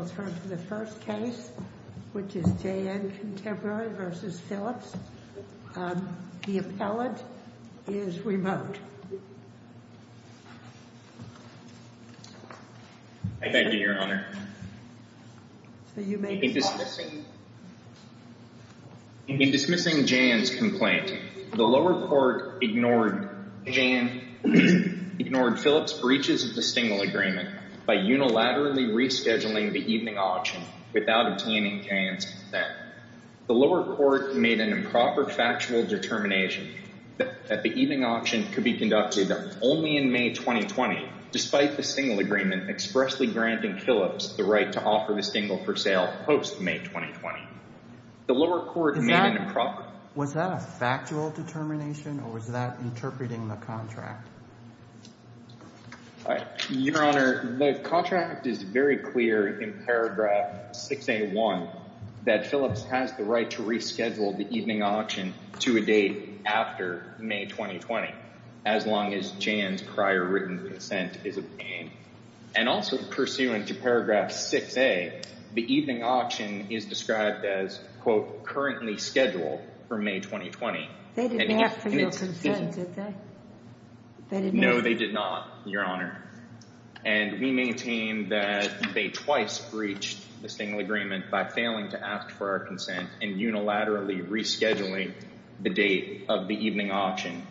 JN Contemporary Art LLC v. Phillips Auctioneers LLC The appellate is remote. In dismissing JN's complaint, the lower court ignored Phillips' breaches of the Stengel Agreement by unilaterally rescheduling the evening auction without obtaining JN's consent. The lower court made an improper factual determination that the evening auction could be conducted only in May 2020, despite the Stengel Agreement expressly granting Phillips the right to offer the Stengel for sale post-May 2020. The lower court made an improper... Was that a factual determination or was that interpreting the contract? Your Honor, the contract is very clear in paragraph 6A1 that Phillips has the right to reschedule the evening auction to a date after May 2020, as long as JN's prior written consent is obtained. And also pursuant to paragraph 6A, the evening auction is described as, quote, currently scheduled for May 2020. They didn't have to make a consent, did they? No, they did not, Your Honor. And we maintain that they twice breached the Stengel Agreement by failing to ask for our consent and unilaterally rescheduling the date of the evening auction.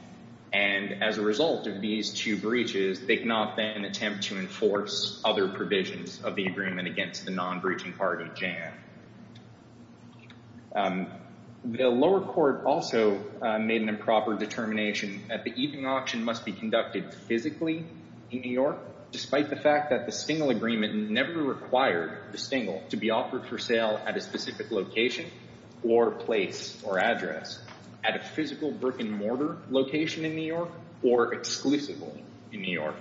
And as a result of these two breaches, they cannot then attempt to enforce other provisions of the agreement against the non-breaching part of JN. The lower court also made an improper determination that the evening auction must be conducted physically in New York, despite the fact that the Stengel Agreement never required the Stengel to be offered for sale at a specific location or place or address, at a physical brick-and-mortar location in New York or exclusively in New York.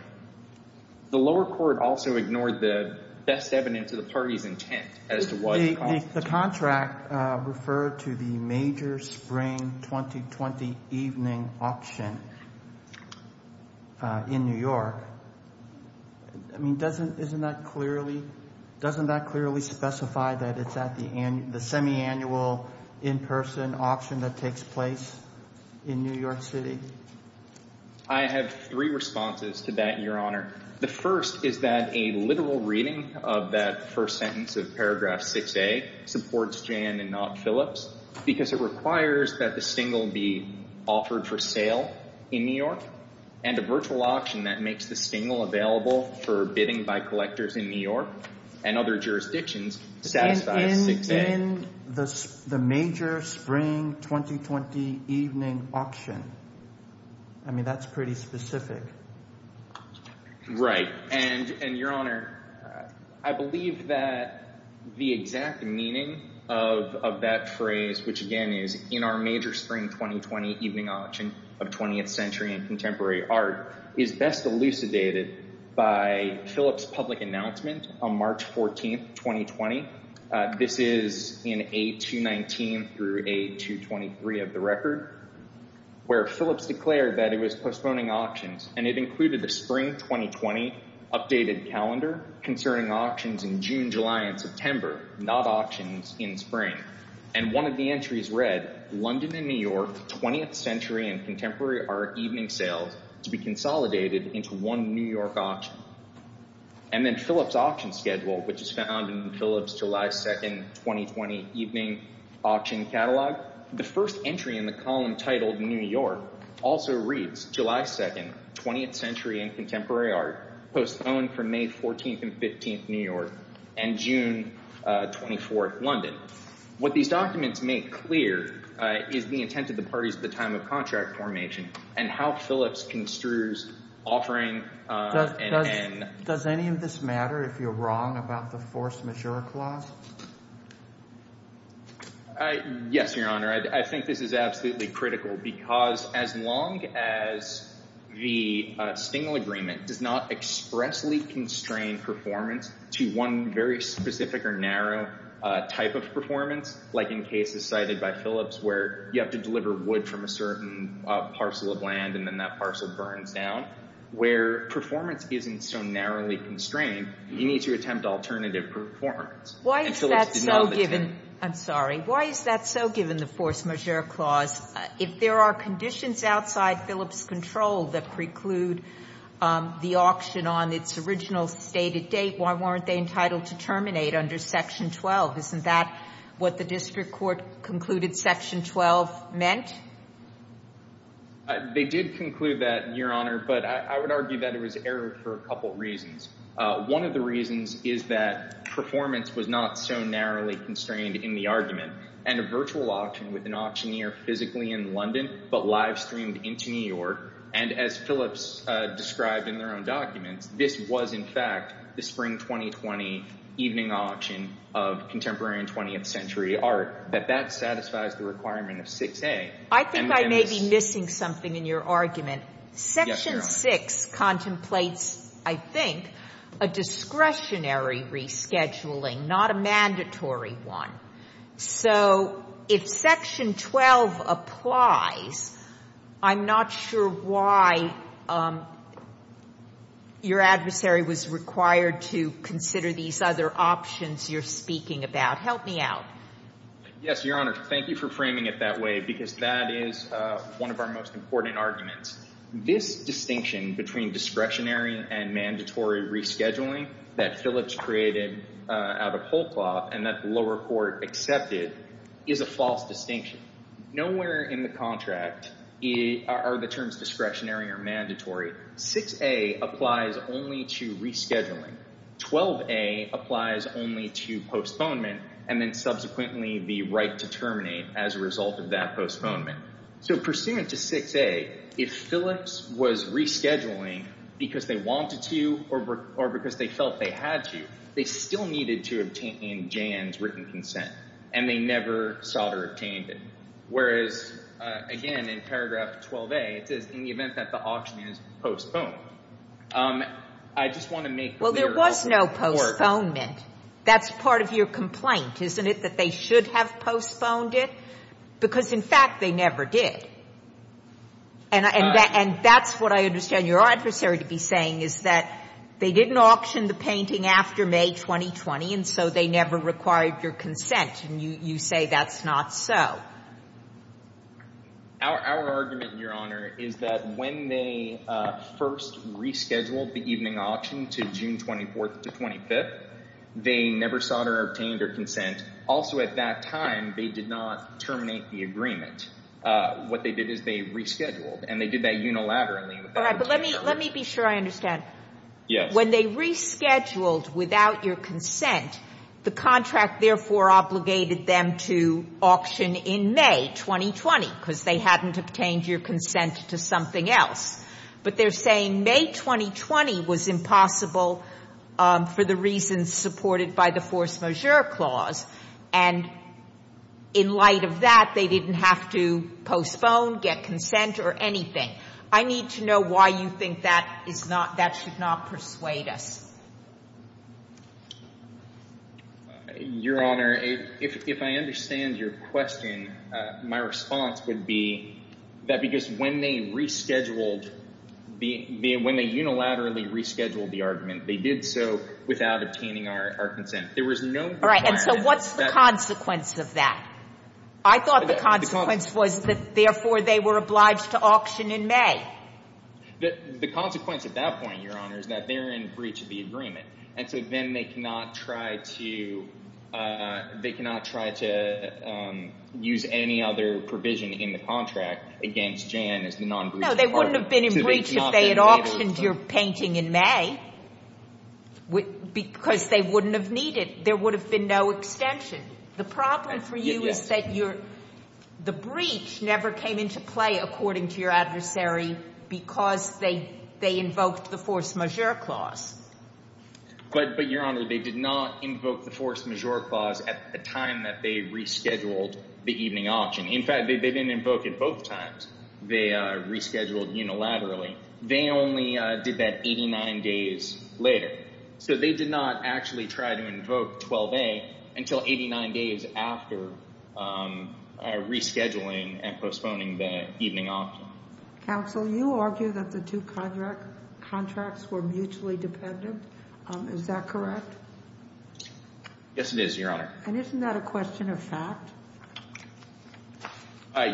The lower court also ignored the best evidence of the party's intent as to why the contract referred to the major spring 2020 evening auction in New York. I mean, doesn't that clearly specify that it's at the semi-annual in-person auction that takes place in New York City? I have three responses to that, Your Honor. The first is that a literal reading of that first sentence of paragraph 6A supports JN and not Phillips because it requires that the Stengel be offered for sale in New York and a virtual auction that makes the Stengel available for bidding by collectors in New York and other jurisdictions satisfies 6A. In the major spring 2020 evening auction? I mean, that's pretty specific. Right, and Your Honor, I believe that the exact meaning of that phrase, which again is, in our major spring 2020 evening auction of 20th century and contemporary art, is best elucidated by Phillips' public announcement on March 14, 2020. This is in A219 through A223 of the record, where Phillips declared that it was postponing auctions, and it included the spring 2020 updated calendar concerning auctions in June, July, and September, not auctions in spring. And one of the entries read, London and New York 20th century and contemporary art evening sales to be consolidated into one New York auction. And then Phillips' auction schedule, which is found in Phillips' July 2, 2020 evening auction catalog. The first entry in the column titled New York also reads July 2, 20th century and contemporary art, postponed from May 14 and 15, New York, and June 24, London. What these documents make clear is the intent of the parties at the time of contract formation and how Phillips construes offering an end. Does any of this matter if you're wrong about the force majeure clause? Yes, your honor. I think this is absolutely critical because as long as the Stengel Agreement does not expressly constrain performance to one very specific or narrow type of performance, like in cases cited by Phillips where you have to deliver wood from a certain parcel of land and then that parcel burns down, where performance isn't so narrowly constrained, you need to attempt alternative performance. Why is that so given? I'm sorry. Why is that so given the force majeure clause? If there are conditions outside Phillips' control that preclude the auction on its original stated date, why weren't they entitled to terminate under Section 12? Isn't that what the district court concluded Section 12 meant? They did conclude that, your honor, but I would argue that it was errored for a couple reasons. One of the reasons is that performance was not so narrowly constrained in the argument and a virtual auction with an auctioneer physically in London but live streamed into New York and as Phillips described in their own documents, this was in fact the Spring 2020 evening virtual auction of contemporary and 20th century art, that that satisfies the requirement of 6A. I think I may be missing something in your argument. Section 6 contemplates, I think, a discretionary rescheduling, not a mandatory one. So if Section 12 applies, I'm not sure why your adversary was required to consider these other options you're speaking about. Help me out. Yes, your honor. Thank you for framing it that way because that is one of our most important arguments. This distinction between discretionary and mandatory rescheduling that Phillips created out of whole cloth and that the lower court accepted is a false distinction. Nowhere in the contract are the terms discretionary or mandatory. 6A applies only to rescheduling. 12A applies only to postponement and then subsequently the right to terminate as a result of that postponement. So pursuant to 6A, if Phillips was rescheduling because they wanted to or because they felt they had to, they still needed to obtain Jan's written consent and they never sought or obtained it. Whereas, again, in paragraph 12A, it says, in the event that the auction is postponed. I just want to make clear. Well, there was no postponement. That's part of your complaint, isn't it, that they should have postponed it? Because, in fact, they never did. And that's what I understand your adversary to be saying is that they didn't auction the painting after May 2020 and so they never required your consent. And you say that's not so. Our argument, Your Honor, is that when they first rescheduled the evening auction to June 24th to 25th, they never sought or obtained their consent. Also, at that time, they did not terminate the agreement. What they did is they rescheduled and they did that unilaterally. All right, but let me be sure I understand. Yes. When they rescheduled without your consent, the contract therefore obligated them to auction in May 2020 because they hadn't obtained your consent to something else. But they're saying May 2020 was impossible for the reasons supported by the force majeure clause. And in light of that, they didn't have to postpone, get consent, or anything. I need to know why you think that should not persuade us. Your Honor, if I understand your question, my response would be that because when they unilaterally rescheduled the argument, they did so without obtaining our consent. All right, and so what's the consequence of that? I thought the consequence was that therefore they were obliged to auction in May The consequence at that point, Your Honor, is that they're in breach of the agreement. And so then they cannot try to use any other provision in the contract against Jan as the non-breach part of it. No, they wouldn't have been in breach if they had auctioned your painting in May because they wouldn't have needed. There would have been no extension. The problem for you is that the breach never came into play according to your argument, Your Honor. The breach was necessary because they invoked the force majeure clause. But, Your Honor, they did not invoke the force majeure clause at the time that they rescheduled the evening auction. In fact, they didn't invoke it both times. They rescheduled unilaterally. They only did that 89 days later. So they did not actually try to invoke 12A until 89 days after rescheduling and postponing the evening auction. Counsel, you argue that the two contracts were mutually dependent. Is that correct? Yes, it is, Your Honor. And isn't that a question of fact?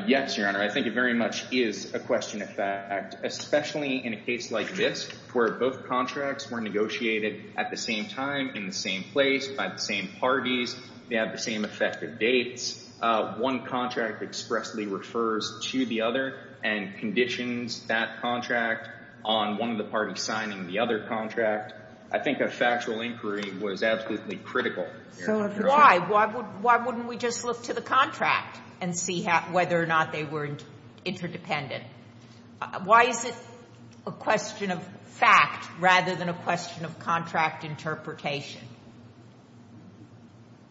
Yes, Your Honor. I think it very much is a question of fact, especially in a case like this where both contracts were negotiated at the same time, in the same place, by the same parties. They have the same effective dates. One contract expressly refers to the other and conditions that contract on one of the parties signing the other contract. I think a factual inquiry was absolutely critical. Why? Why wouldn't we just look to the contract and see whether or not they were interdependent? Why is it a question of fact rather than a question of contract interpretation?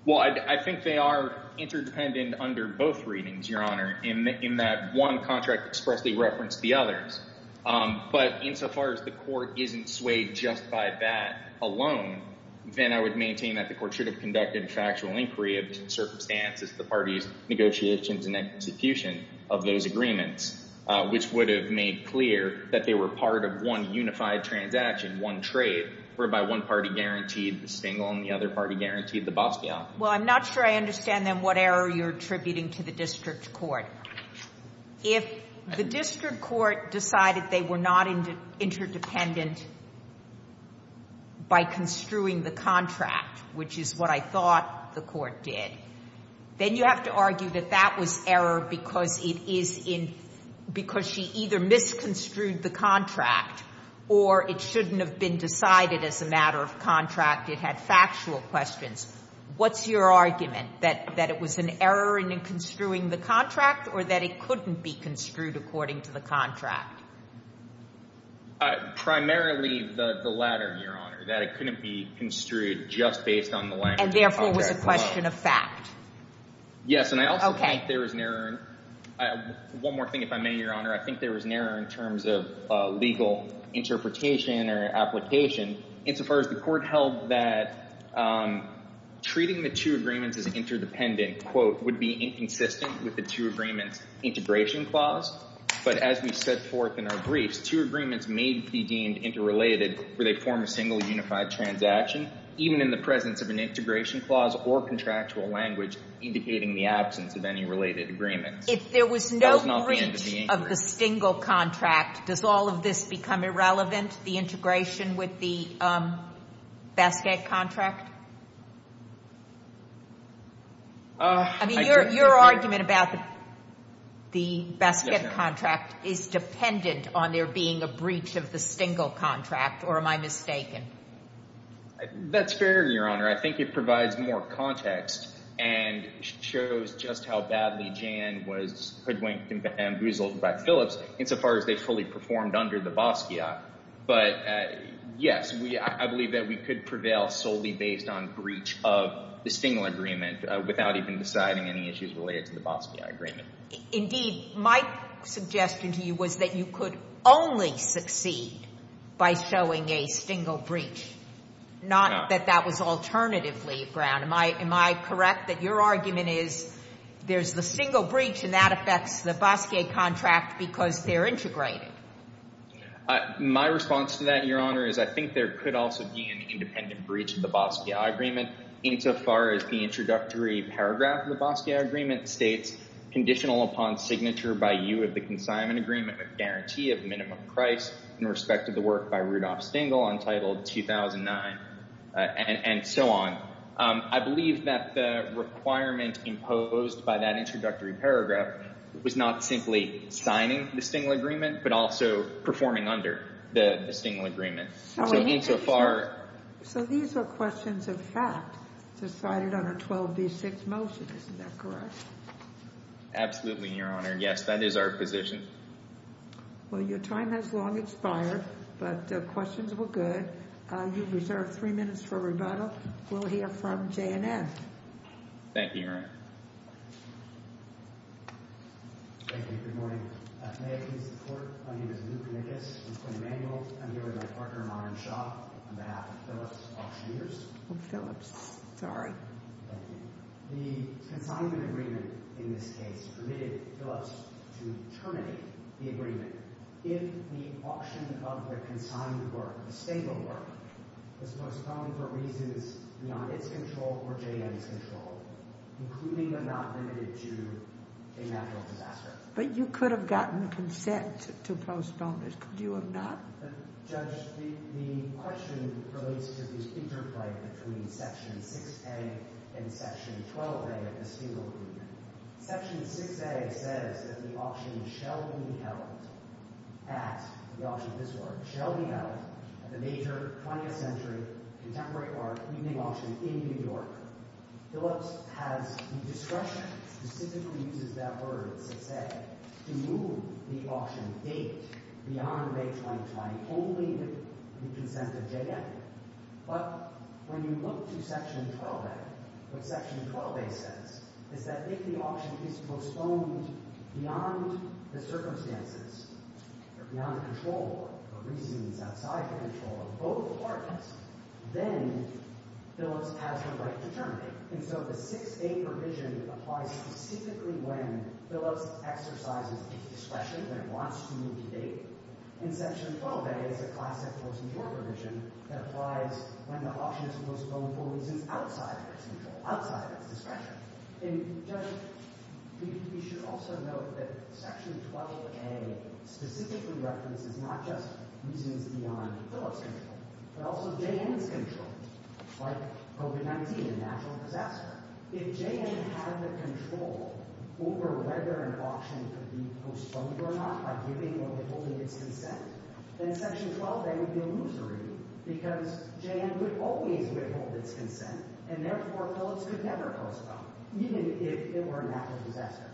Well, I think they are interdependent under both readings, Your Honor, in that one contract expressly referenced the others. But insofar as the court isn't swayed just by that alone, then I would maintain that the court should have conducted a factual inquiry of the circumstances, the parties' negotiations and execution of those agreements, which would have made clear that they were part of one unified transaction, one trade, whereby one party guaranteed the Stengel and the other party guaranteed the Basquiat. Well, I'm not sure I understand, then, what error you're attributing to the district court. If the district court decided they were not interdependent by construing the contract, which is what I thought the court did, then you have to argue that that was error because it is in – because she either misconstrued the contract or it could have been decided as a matter of contract. It had factual questions. What's your argument? That it was an error in construing the contract or that it couldn't be construed according to the contract? Primarily the latter, Your Honor, that it couldn't be construed just based on the language of the contract alone. And therefore it was a question of fact. If there was no breach of the Stengel contract, does all of this become irrelevant? The integration with the Basquiat contract? I mean, your argument about the Basquiat contract is dependent on there being a breach of the Stengel contract, or am I mistaken? That's fair, Your Honor. I think it provides more context and shows just how badly Jan was hoodwinked by Phillips insofar as they fully performed under the Basquiat. But, yes, I believe that we could prevail solely based on breach of the Stengel agreement without even deciding any issues related to the Basquiat agreement. Indeed, my suggestion to you was that you could only succeed by showing a Stengel breach, not that that was alternatively ground. Am I correct that your argument is there's the Stengel breach and that there's the Basquiat contract because they're integrated? My response to that, Your Honor, is I think there could also be an independent breach of the Basquiat agreement insofar as the introductory paragraph of the Basquiat agreement states, conditional upon signature by you of the consignment agreement with guarantee of minimum price in respect to the work by Rudolf Stengel, entitled 2009, and so on. I believe that the requirement imposed by that introductory paragraph was not simply signing the Stengel agreement, but also performing under the Stengel agreement. So, insofar... So, these are questions of fact decided on a 12D6 motion. Isn't that correct? Absolutely, Your Honor. Yes, that is our position. Well, your time has long expired, but the questions were good. You've reserved three minutes for rebuttal. We'll hear from J&M. Thank you, Your Honor. Thank you. Good morning. May I please report? My name is Luke Nickus. I'm 20 manual. I'm here with my partner, Maren Shaw, on behalf of Phillips Auctioneers. Oh, Phillips. Sorry. The consignment agreement in this case permitted Phillips to terminate the agreement. If the auction of the consigned work, the Stengel work, is postponed for reasons beyond its control or J&M's control, including but not limited to a natural disaster. But you could have gotten consent to postpone it. Could you have not? Judge, the question relates to the interplay between Section 6A and Section 12A of the Stengel agreement. Phillips has discretion, specifically uses that word, 6A, to move the auction date beyond May 2020 only with the consent of J&M. But when you look to Section 12A, what Section 12A says is that if the auction is postponed beyond the circumstances or beyond control or reasons outside the control of both parties, then Phillips has the right to terminate. And so the 6A provision applies specifically when Phillips exercises discretion, when it wants to move the date. And Section 12A is a classic post-mortem provision that applies when the auction is postponed for reasons outside its control, outside its discretion. And, Judge, we should also note that Section 12A specifically references not just reasons beyond Phillips' control, but also J&M's control, like COVID-19, a natural disaster. If J&M had the control over whether an auction could be postponed or not by giving or withholding its consent, then Section 12A would be illusory, because J&M would always withhold its consent, and therefore Phillips could never postpone, even if it were a natural disaster.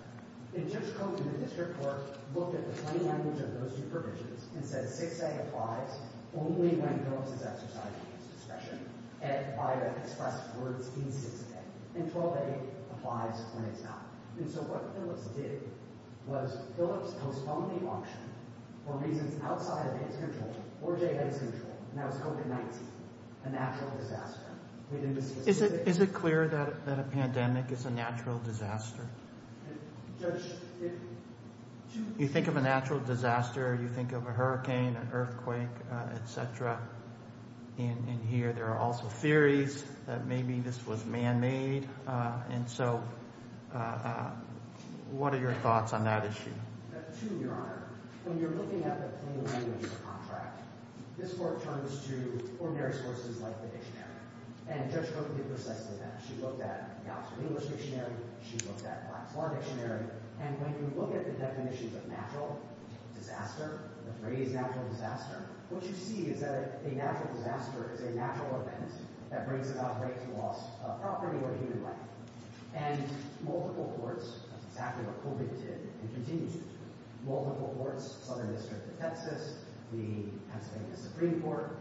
And Judge Koch and the district court looked at the plain language of those two provisions and said 6A applies only when Phillips is exercising its discretion and by the express words in 6A. And 12A applies when it's not. And so what Phillips did was Phillips postponed the auction for reasons outside of its control or J&M's control, and that was COVID-19, a natural disaster. Is it clear that a pandemic is a natural disaster? You think of a natural disaster, you think of a hurricane, an earthquake, et cetera, and here there are also theories that maybe this was man-made, and so what are your thoughts on that issue? And Judge Koch did precisely that. She looked at the Oxford English Dictionary. She looked at Black's Law Dictionary. And when you look at the definitions of natural disaster, the phrase natural disaster, what you see is that a natural disaster is a natural event that brings about great loss of property or human life. And multiple courts, that's exactly what COVID did and continues to do, multiple courts, Southern District of Texas, the Pennsylvania Supreme Court,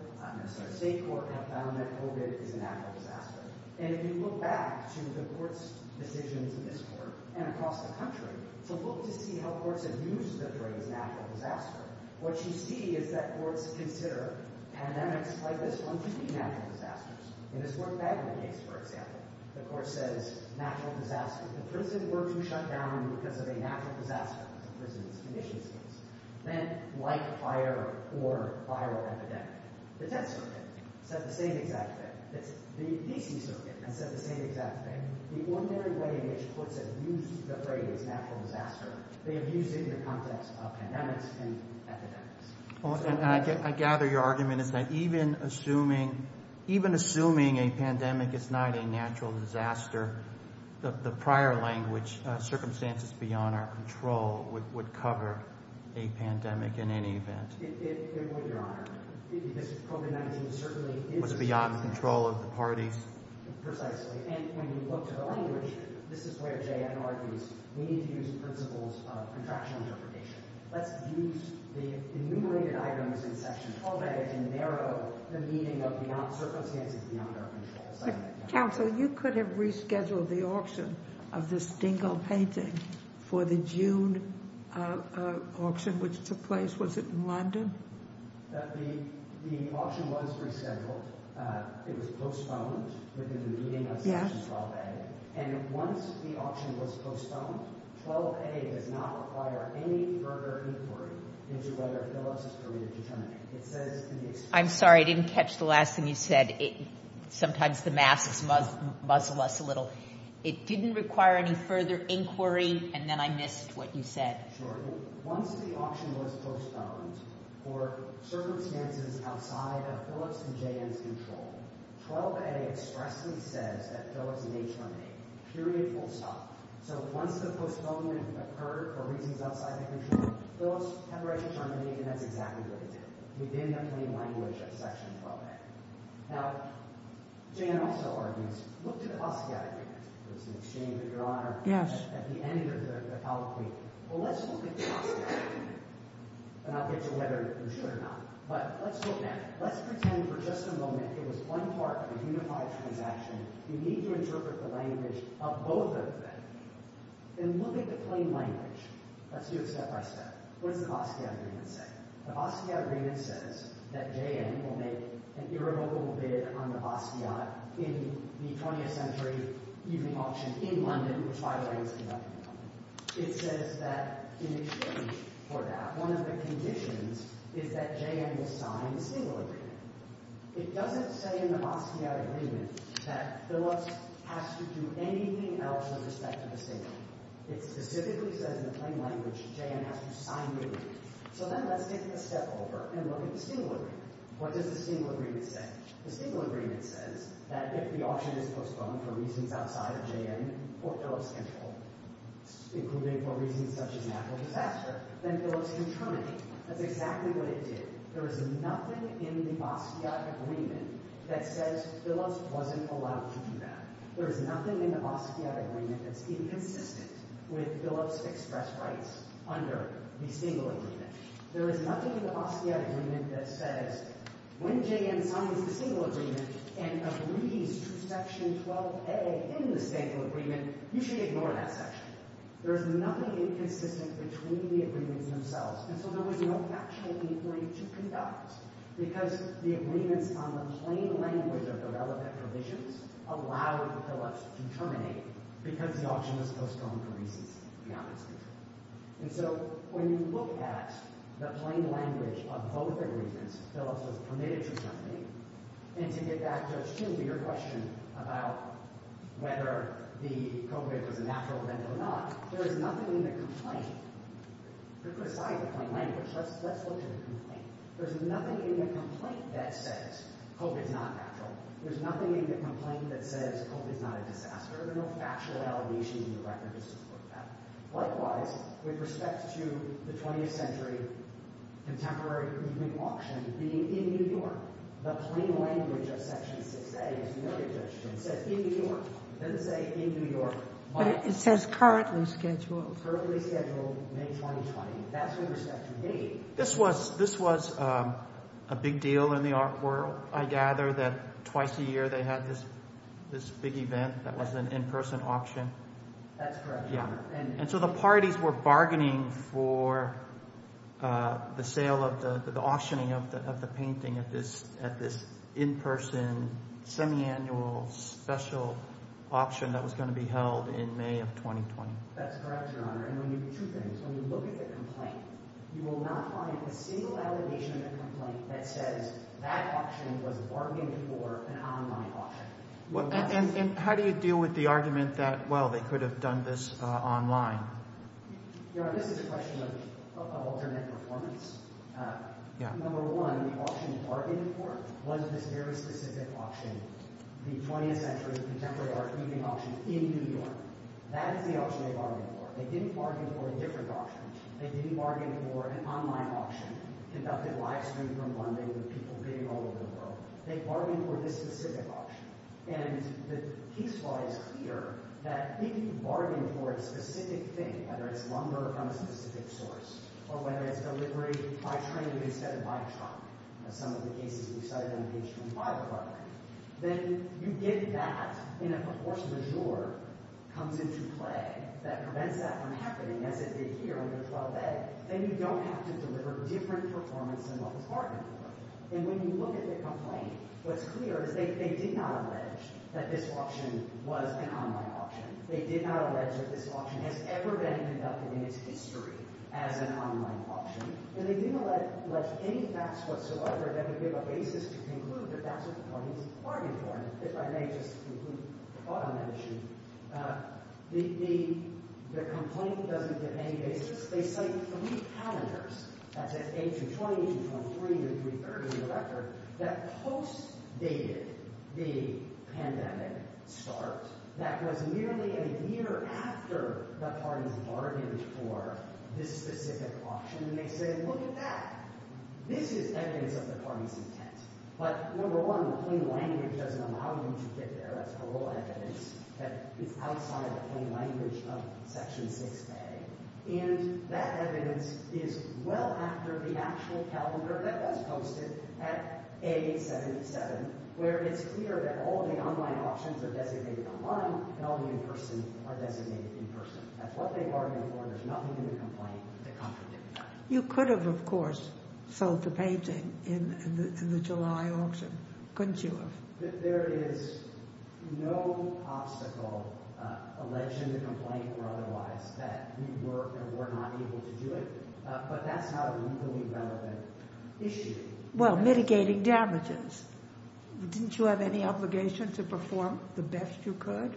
State Court, have found that COVID is a natural disaster. And if you look back to the court's decisions in this court and across the country, to look to see how courts have used the phrase natural disaster, what you see is that courts consider pandemics like this one to be natural disasters. And this worked badly in the case, for example. The court says natural disaster. If the prison were to shut down because of a natural disaster, prison conditions, then like fire or viral epidemic, the Texas Circuit said the same exact thing. The D.C. Circuit has said the same exact thing. The ordinary way in which courts have used the phrase natural disaster, they have used it in the context of pandemics and epidemics. And I gather your argument is that even assuming, even assuming a pandemic is not a natural disaster, the prior language, circumstances beyond our control, would cover a pandemic in any event. It would, Your Honor. Because COVID-19 certainly is- Was it beyond the control of the parties? Precisely. And when you look to the language, this is where J.N. argues, we need to use principles of contractual interpretation. Let's use the enumerated items in Section 12A to narrow the meaning of beyond circumstances beyond our control. Counsel, you could have rescheduled the auction of the Stengel painting for the June auction which took place. Was it in London? The auction was rescheduled. It was postponed within the meeting of Section 12A. And once the auction was postponed, 12A does not require any further inquiry into whether Phillips is permitted to terminate. It says- I'm sorry. I didn't catch the last thing you said. Sometimes the masks muzzle us a little. It didn't require any further inquiry, and then I missed what you said. Sure. Once the auction was postponed for circumstances outside of Phillips and J.N.'s control, 12A expressly says that Phillips may terminate. Period. Full stop. So once the postponement occurred for reasons outside the control, Phillips has the right to terminate, and that's exactly what it did. Within the plain language of Section 12A. Now, J.N. also argues, look to the Basquiat agreement. There was an exchange of your honor at the end of the colloquy. Well, let's look at the Basquiat agreement, and I'll get to whether you should or not, but let's look now. Let's pretend for just a moment it was one part of a unified transaction. You need to interpret the language of both of them. Then look at the plain language. Let's do it step by step. What does the Basquiat agreement say? The Basquiat agreement says that J.N. will make an irrevocable bid on the Basquiat in the 20th century evening auction in London, which by the way is conducted in London. It says that in exchange for that, one of the conditions is that J.N. will sign the singular agreement. It doesn't say in the Basquiat agreement that Phillips has to do anything else with respect to the singular. It specifically says in the plain language J.N. has to sign the agreement. So then let's take a step over and look at the singular agreement. What does the singular agreement say? The singular agreement says that if the auction is postponed for reasons outside of J.N. for Phillips control, including for reasons such as natural disaster, then Phillips can terminate. That's exactly what it did. There is nothing in the Basquiat agreement that says Phillips wasn't allowed to do that. There is nothing in the Basquiat agreement that's inconsistent with Phillips' express rights under the singular agreement. There is nothing in the Basquiat agreement that says when J.N. signs the singular agreement and agrees to Section 12a in the singular agreement, you should ignore that section. There is nothing inconsistent between the agreements themselves. And so there was no factual inquiry to conduct because the agreements on the plain language of the relevant provisions allowed Phillips to terminate because the auction was postponed for reasons beyond its control. And so when you look at the plain language of both agreements, Phillips was permitted to terminate. And to get back to your question about whether the COVID was a natural event or not, there is nothing in the complaint to put aside the plain language. Let's look at the complaint. There is nothing in the complaint that says COVID is not natural. There is nothing in the complaint that says COVID is not a disaster. There are no factual allegations in the record to support that. Likewise, with respect to the 20th century contemporary evening auction being in New York, the plain language of Section 6a is merely a judgment. It says in New York. It doesn't say in New York. But it says currently scheduled. Currently scheduled, May 2020. That's with respect to date. This was a big deal in the art world, I gather, that twice a year they had this big event that was an in-person auction. That's correct, Your Honor. And so the parties were bargaining for the auctioning of the painting at this in-person, semiannual, special auction that was going to be held in May of 2020. That's correct, Your Honor. And two things. When you look at the complaint, you will not find a single allegation in the complaint that says that auction was bargained for an online auction. And how do you deal with the argument that, well, they could have done this online? Your Honor, this is a question of alternate performance. Number one, the auction bargained for was this very specific auction, the 20th century contemporary art evening auction in New York. That is the auction they bargained for. They didn't bargain for a different auction. They didn't bargain for an online auction conducted live-streamed from London with people being all over the world. They bargained for this specific auction. And the case law is clear that if you bargain for a specific thing, whether it's lumber from a specific source, or whether it's delivery by train instead of by truck, as some of the cases we cited on the page from the Bible are, then you get that in a proportionate majeure comes into play that prevents that from happening, as it did here on the 12th day, then you don't have to deliver different performance than what was bargained for. And when you look at the complaint, what's clear is they did not allege that this auction was an online auction. They did not allege that this auction has ever been conducted in its history as an online auction. And they didn't allege any facts whatsoever that would give a basis to conclude that that's what the parties bargained for. If I may just conclude a thought on that issue. The complaint doesn't give any basis. They cite three calendars. That's A220, A223, and A330 in the record that post-dated the pandemic start. That was nearly a year after the parties bargained for this specific auction. And they said, look at that. This is evidence of the parties' intent. But number one, plain language doesn't allow you to get there. That's parole evidence that is outside the plain language of Section 6A. And that evidence is well after the actual calendar that was posted at A877, where it's clear that all the online auctions are designated online and all the in-person are designated in-person. That's what they bargained for. There's nothing in the complaint that contradicts that. You could have, of course, sold the painting in the July auction, couldn't you have? There is no obstacle, alleged in the complaint or otherwise, that we were or were not able to do it. But that's not a legally relevant issue. Well, mitigating damages. Didn't you have any obligation to perform the best you could?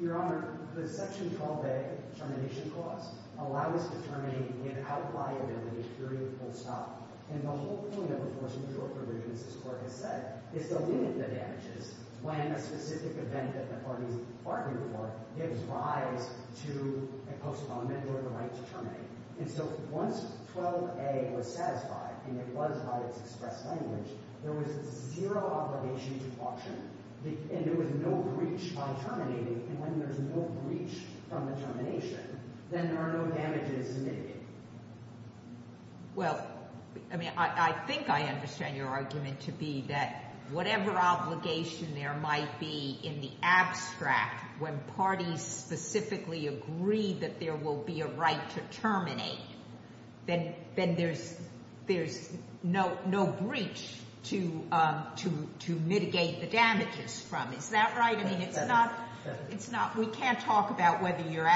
Your Honor, the Section 12A termination clause allows determining an outliability period full stop. And the whole point of enforcing court provisions, as the clerk has said, is to limit the damages when a specific event that the parties bargained for gives rise to a postponement or the right to terminate. And so once 12A was satisfied, and it was by its express language, there was zero obligation to auction. And there was no breach by terminating. And when there's no breach from the termination, then there are no damages to mitigate. Well, I mean, I think I understand your argument to be that whatever obligation there might be in the abstract, when parties specifically agree that there will be a right to terminate, then there's no breach to mitigate the damages from. Is that right? I mean, it's not, we can't talk about whether your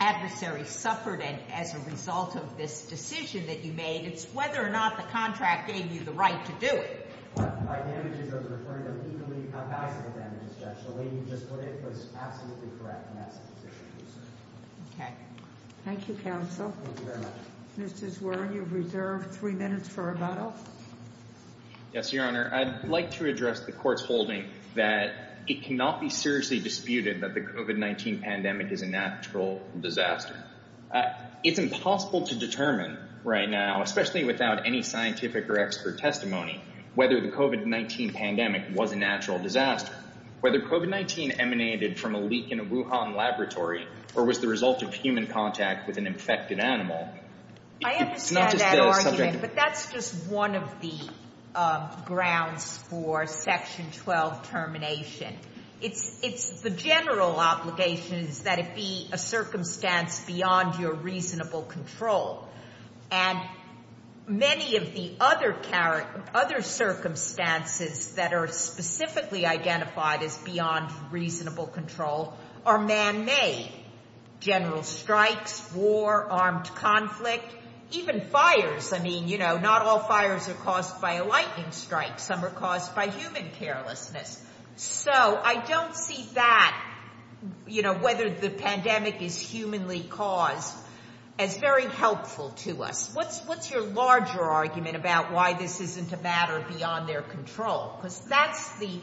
adversary suffered as a result of this decision that you made. It's whether or not the contract gave you the right to do it. OK. Thank you, counsel. Thank you very much. Mr. Zwer, you have reserved three minutes for rebuttal. Yes, Your Honor. I'd like to address the court's holding that it cannot be seriously disputed that the COVID-19 pandemic is a natural disaster. It's impossible to determine right now, especially without any scientific or expert testimony, whether the COVID-19 pandemic was a natural disaster, whether COVID-19 emanated from a leak in a Wuhan laboratory or was the result of human contact with an infected animal. I understand that argument, but that's just one of the grounds for Section 12 termination. It's the general obligation that it be a circumstance beyond your reasonable control. And many of the other circumstances that are specifically identified as beyond reasonable control are man-made. General strikes, war, armed conflict, even fires. I mean, not all fires are caused by a lightning strike. Some are caused by human carelessness. So I don't see that, you know, whether the pandemic is humanly caused, as very helpful to us. What's your larger argument about why this isn't a matter beyond their control? Because that's the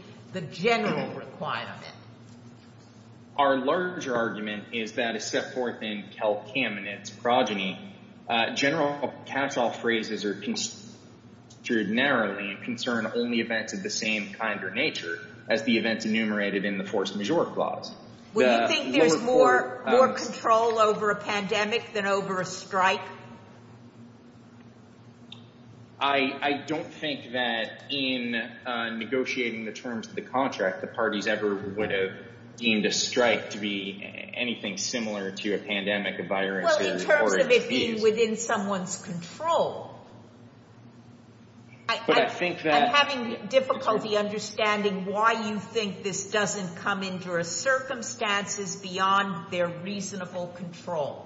general requirement. Our larger argument is that, as set forth in Kel Kamenetz's progeny, general caps-off phrases are construed narrowly and concern only events of the same kind or nature as the events enumerated in the force majeure clause. Would you think there's more control over a pandemic than over a strike? I don't think that, in negotiating the terms of the contract, the parties ever would have deemed a strike to be anything similar to a pandemic, a virus, or a disease. Well, in terms of it being within someone's control. But I think that... I'm having difficulty understanding why you think this doesn't come into our circumstances beyond their reasonable control.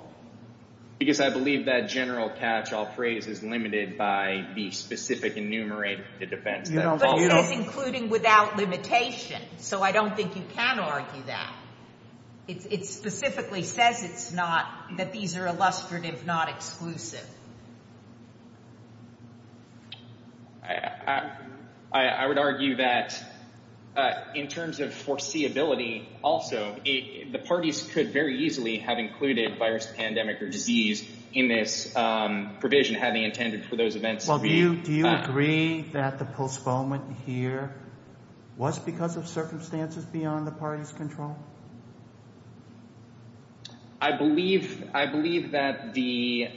Because I believe that general catch-all phrase is limited by the specific enumerated defense. But that's including without limitation. So I don't think you can argue that. It specifically says it's not, that these are illustrative, not exclusive. I would argue that, in terms of foreseeability, also, the parties could very easily have included virus, pandemic, or disease in this provision having intended for those events to be... Well, do you agree that the postponement here was because of circumstances beyond the party's control? I believe that the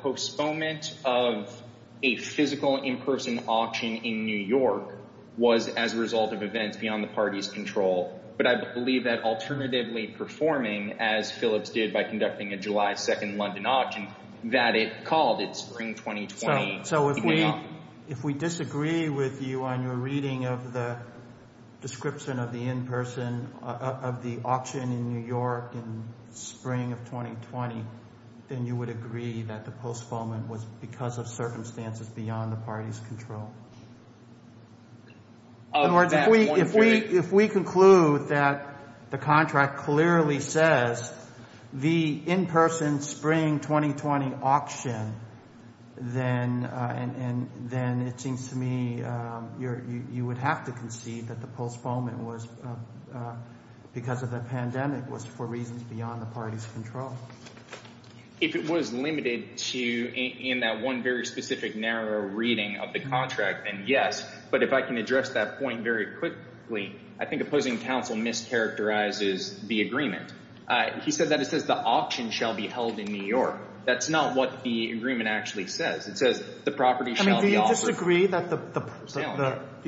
postponement of a physical in-person auction in New York was as a result of events beyond the party's control. But I believe that, alternatively performing, as Phillips did by conducting a July 2nd London auction, that it called it Spring 2020. So if we disagree with you on your reading of the description of the in-person auction, of the auction in New York in Spring of 2020, then you would agree that the postponement was because of circumstances beyond the party's control. In other words, if we conclude that the contract clearly says the in-person Spring 2020 auction, then it seems to me you would have to concede that the postponement was because of the pandemic was for reasons beyond the party's control. If it was limited to in that one very specific narrow reading of the contract, then yes. But if I can address that point very quickly, I think opposing counsel mischaracterizes the agreement. He said that it says the auction shall be held in New York. That's not what the agreement actually says. It says the property shall be offered... Do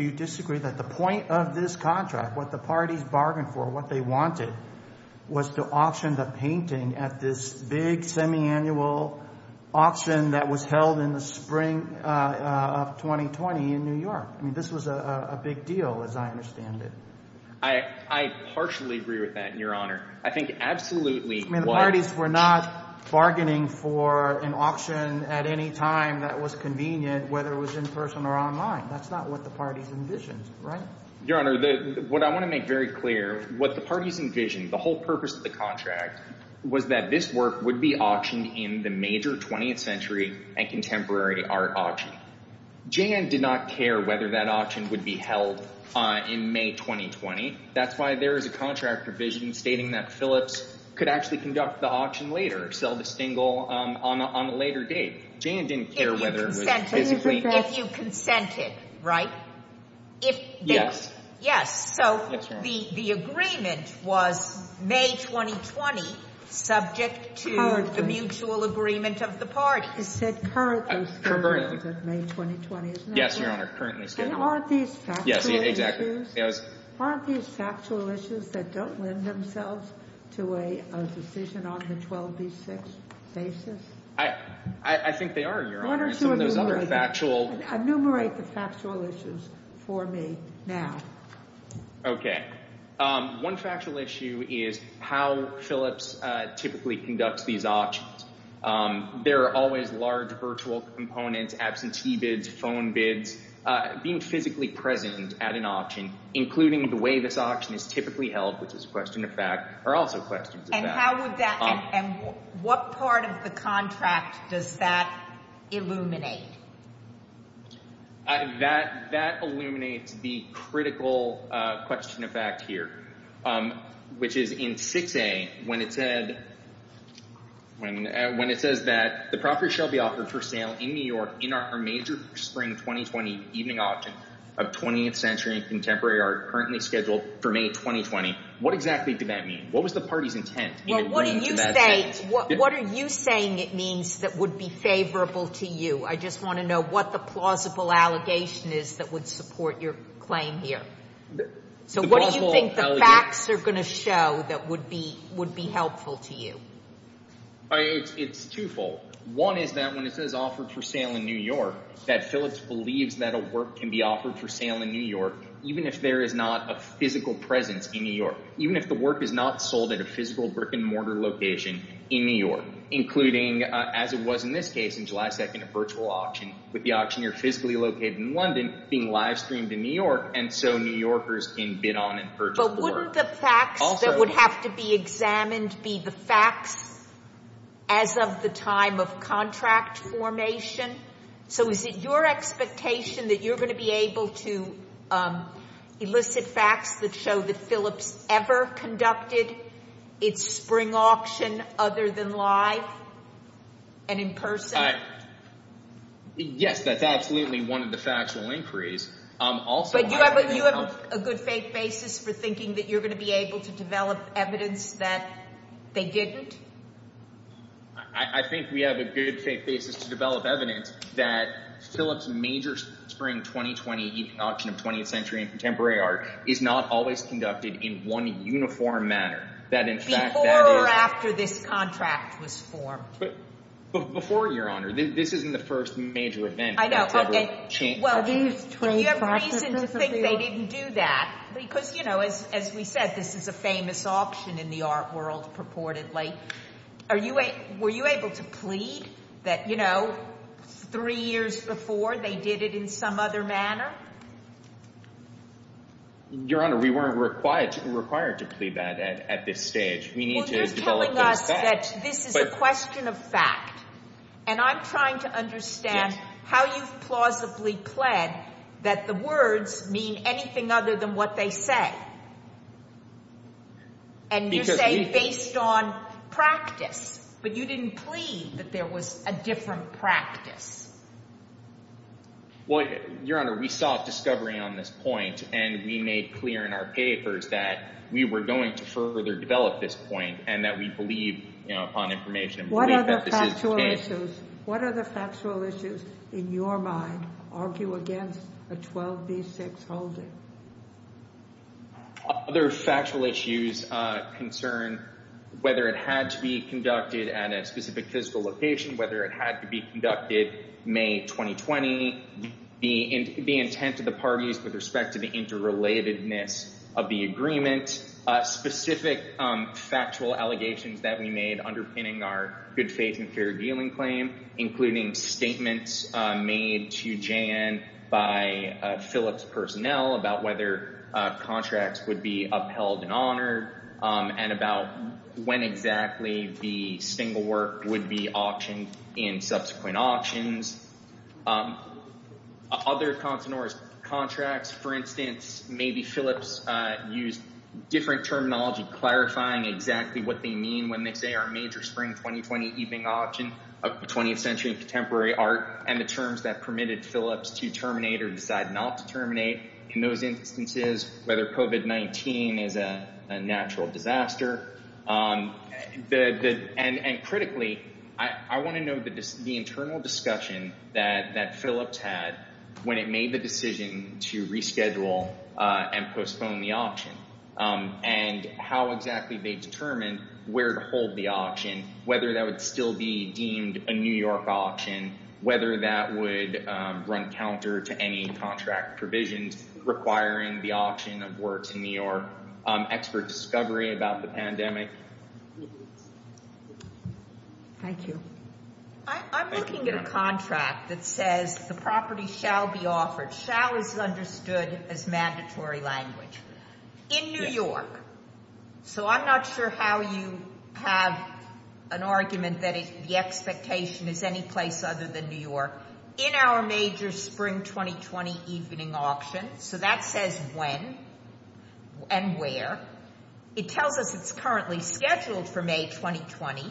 you disagree that the point of this contract, what the parties bargained for, what they wanted, was to auction the painting at this big semiannual auction that was held in the Spring of 2020 in New York? I mean, this was a big deal, as I understand it. I partially agree with that, Your Honor. I think absolutely... I mean, the parties were not bargaining for an auction at any time that was convenient, whether it was in person or online. That's not what the parties envisioned, right? Your Honor, what I want to make very clear, what the parties envisioned, the whole purpose of the contract, was that this work would be auctioned in the major 20th century and contemporary art auction. Jan did not care whether that auction would be held in May 2020. That's why there is a contract provision stating that Phillips could actually conduct the auction later, sell the stingle on a later date. Jan didn't care whether it was physically... If you consented, right? If... Yes. Yes. So the agreement was May 2020, subject to the mutual agreement of the parties. It said, currently, May 2020, isn't it? Yes, Your Honor. And aren't these factual issues? Yes, exactly. Aren't these factual issues that don't lend themselves to a decision on the 12B6 basis? I think they are, Your Honor. Enumerate the factual issues for me now. Okay. One factual issue is how Phillips typically conducts these auctions. There are always large virtual components, absentee bids, phone bids. Being physically present at an auction, including the way this auction is typically held, which is a question of fact, are also questions of fact. And how would that... And what part of the contract does that illuminate? That illuminates the critical question of fact here, which is in 6A, when it said... When it says that the property shall be offered for sale in New York in our major spring 2020 evening auction of 20th century contemporary art, currently scheduled for May 2020, what exactly did that mean? What was the party's intent? What are you saying it means that would be favorable to you? I just want to know what the plausible allegation is that would support your claim here. So what do you think the facts are going to show that would be helpful to you? It's twofold. One is that when it says offered for sale in New York, that Phillips believes that a work can be offered for sale in New York, even if there is not a physical presence in New York. Even if the work is not sold at a physical brick-and-mortar location in New York, including, as it was in this case, in July 2nd, a virtual auction with the auctioneer physically located in London being live-streamed in New York, and so New Yorkers can bid on and purchase the work. But wouldn't the facts that would have to be examined be the facts as of the time of contract formation? So is it your expectation that you're going to be able to elicit facts that show that Phillips ever conducted its spring auction other than live and in person? Yes, that's absolutely one of the factual inquiries. But do you have a good faith basis for thinking that you're going to be able to develop evidence that they didn't? I think we have a good faith basis to develop evidence that Phillips' major spring 2020 auction of 20th century and contemporary art is not always conducted in one uniform manner, that in fact that is... Before or after this contract was formed? Before, Your Honor. This isn't the first major event. I know, okay. Well, do you have reason to think they didn't do that? Because, you know, as we said, this is a famous auction in the art world, purportedly. Were you able to plead that, you know, three years before they did it in some other manner? Your Honor, we weren't required to plead that at this stage. We need to develop those facts. Well, you're telling us that this is a question of fact. And I'm trying to understand how you've plausibly pled that the words mean anything other than what they say. And you say based on practice, but you didn't plead that there was a different practice. Well, Your Honor, we saw a discovery on this point, and we made clear in our papers that we were going to further develop this point and that we believe, you know, upon information... What other factual issues in your mind argue against a 12b6 holding? Other factual issues concern whether it had to be conducted at a specific fiscal location, whether it had to be conducted May 2020, the intent of the parties with respect to the interrelatedness of the agreement, specific factual allegations that we made underpinning our good faith and fair dealing claim, including statements made to Jan by Phillips personnel about whether contracts would be upheld and honored and about when exactly the single work would be auctioned in subsequent auctions. Other continuous contracts, for instance, maybe Phillips used different terminology clarifying exactly what they mean when they say our major spring 2020 evening auction of 20th century contemporary art and the terms that permitted Phillips to terminate or decide not to terminate in those instances, whether COVID-19 is a natural disaster. And critically, I want to note the internal discussion that Phillips had when it made the decision to reschedule and postpone the auction and how exactly they determined where to hold the auction, whether that would still be deemed a New York auction, whether that would run counter to any contract provisions requiring the auction of works in New York, expert discovery about the pandemic. Thank you. I'm looking at a contract that says the property shall be offered, shall is understood as mandatory language in New York. So I'm not sure how you have an argument that the expectation is any place other than New York. In our major spring 2020 evening auction, so that says when and where. It tells us it's currently scheduled for May 2020.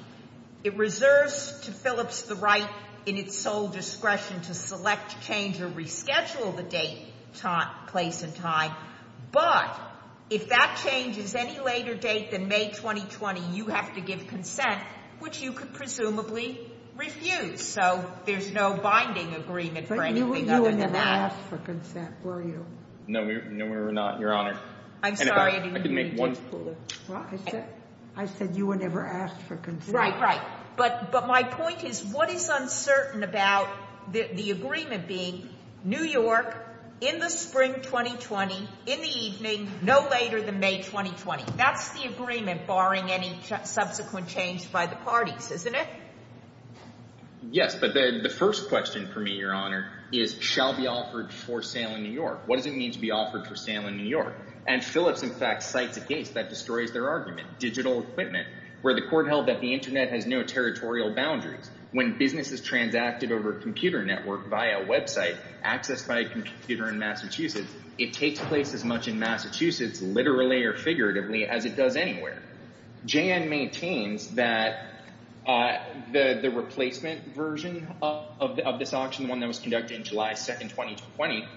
It reserves to Phillips the right in its sole discretion to select, change or reschedule the date, time, place and time. But if that change is any later date than May 2020, you have to give consent, which you could presumably refuse. So there's no binding agreement for anything other than that. But you were never asked for consent, were you? No, we were not, Your Honour. I'm sorry. I said you were never asked for consent. Right, right. But my point is, what is uncertain about the agreement being New York in the spring 2020, in the evening, no later than May 2020? That's the agreement, barring any subsequent change by the parties, isn't it? Yes, but the first question for me, Your Honour, is, shall be offered for sale in New York? What does it mean to be offered for sale in New York? And Phillips, in fact, cites a case that destroys their argument. Digital equipment, where the court held that the internet has no territorial boundaries. When business is transacted over a computer network via a website, accessed by a computer in Massachusetts, it takes place as much in Massachusetts, literally or figuratively, as it does anywhere. JAN maintains that the replacement version of this auction, the one that was conducted in July 2, 2020,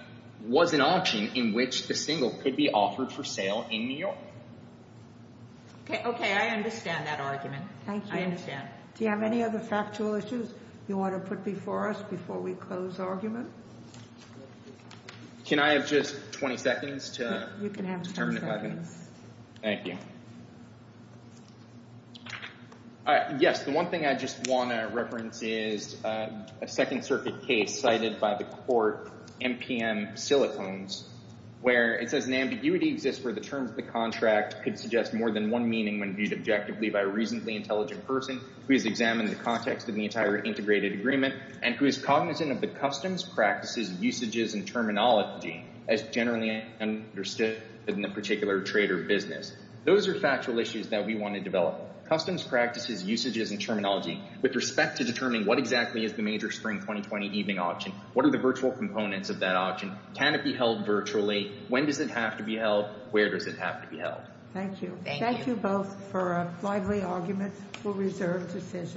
was an auction in which the single could be offered for sale in New York. OK, I understand that argument. Thank you. I understand. Do you have any other factual issues you want to put before us before we close the argument? Can I have just 20 seconds to... You can have 10 seconds. Thank you. Yes, the one thing I just want to reference is a Second Circuit case cited by the court, MPM Silicones, where it says an ambiguity exists where the terms of the contract could suggest more than one meaning when viewed objectively by a reasonably intelligent person who has examined the context of the entire integrated agreement and who is cognizant of the customs, practices, usages, and terminology as generally understood in the particular trade or business. Those are factual issues that we want to develop. Customs, practices, usages, and terminology with respect to determining what exactly is the major Spring 2020 evening auction, what are the virtual components of that auction, can it be held virtually, when does it have to be held, where does it have to be held. Thank you. Thank you both for lively arguments for reserved decisions.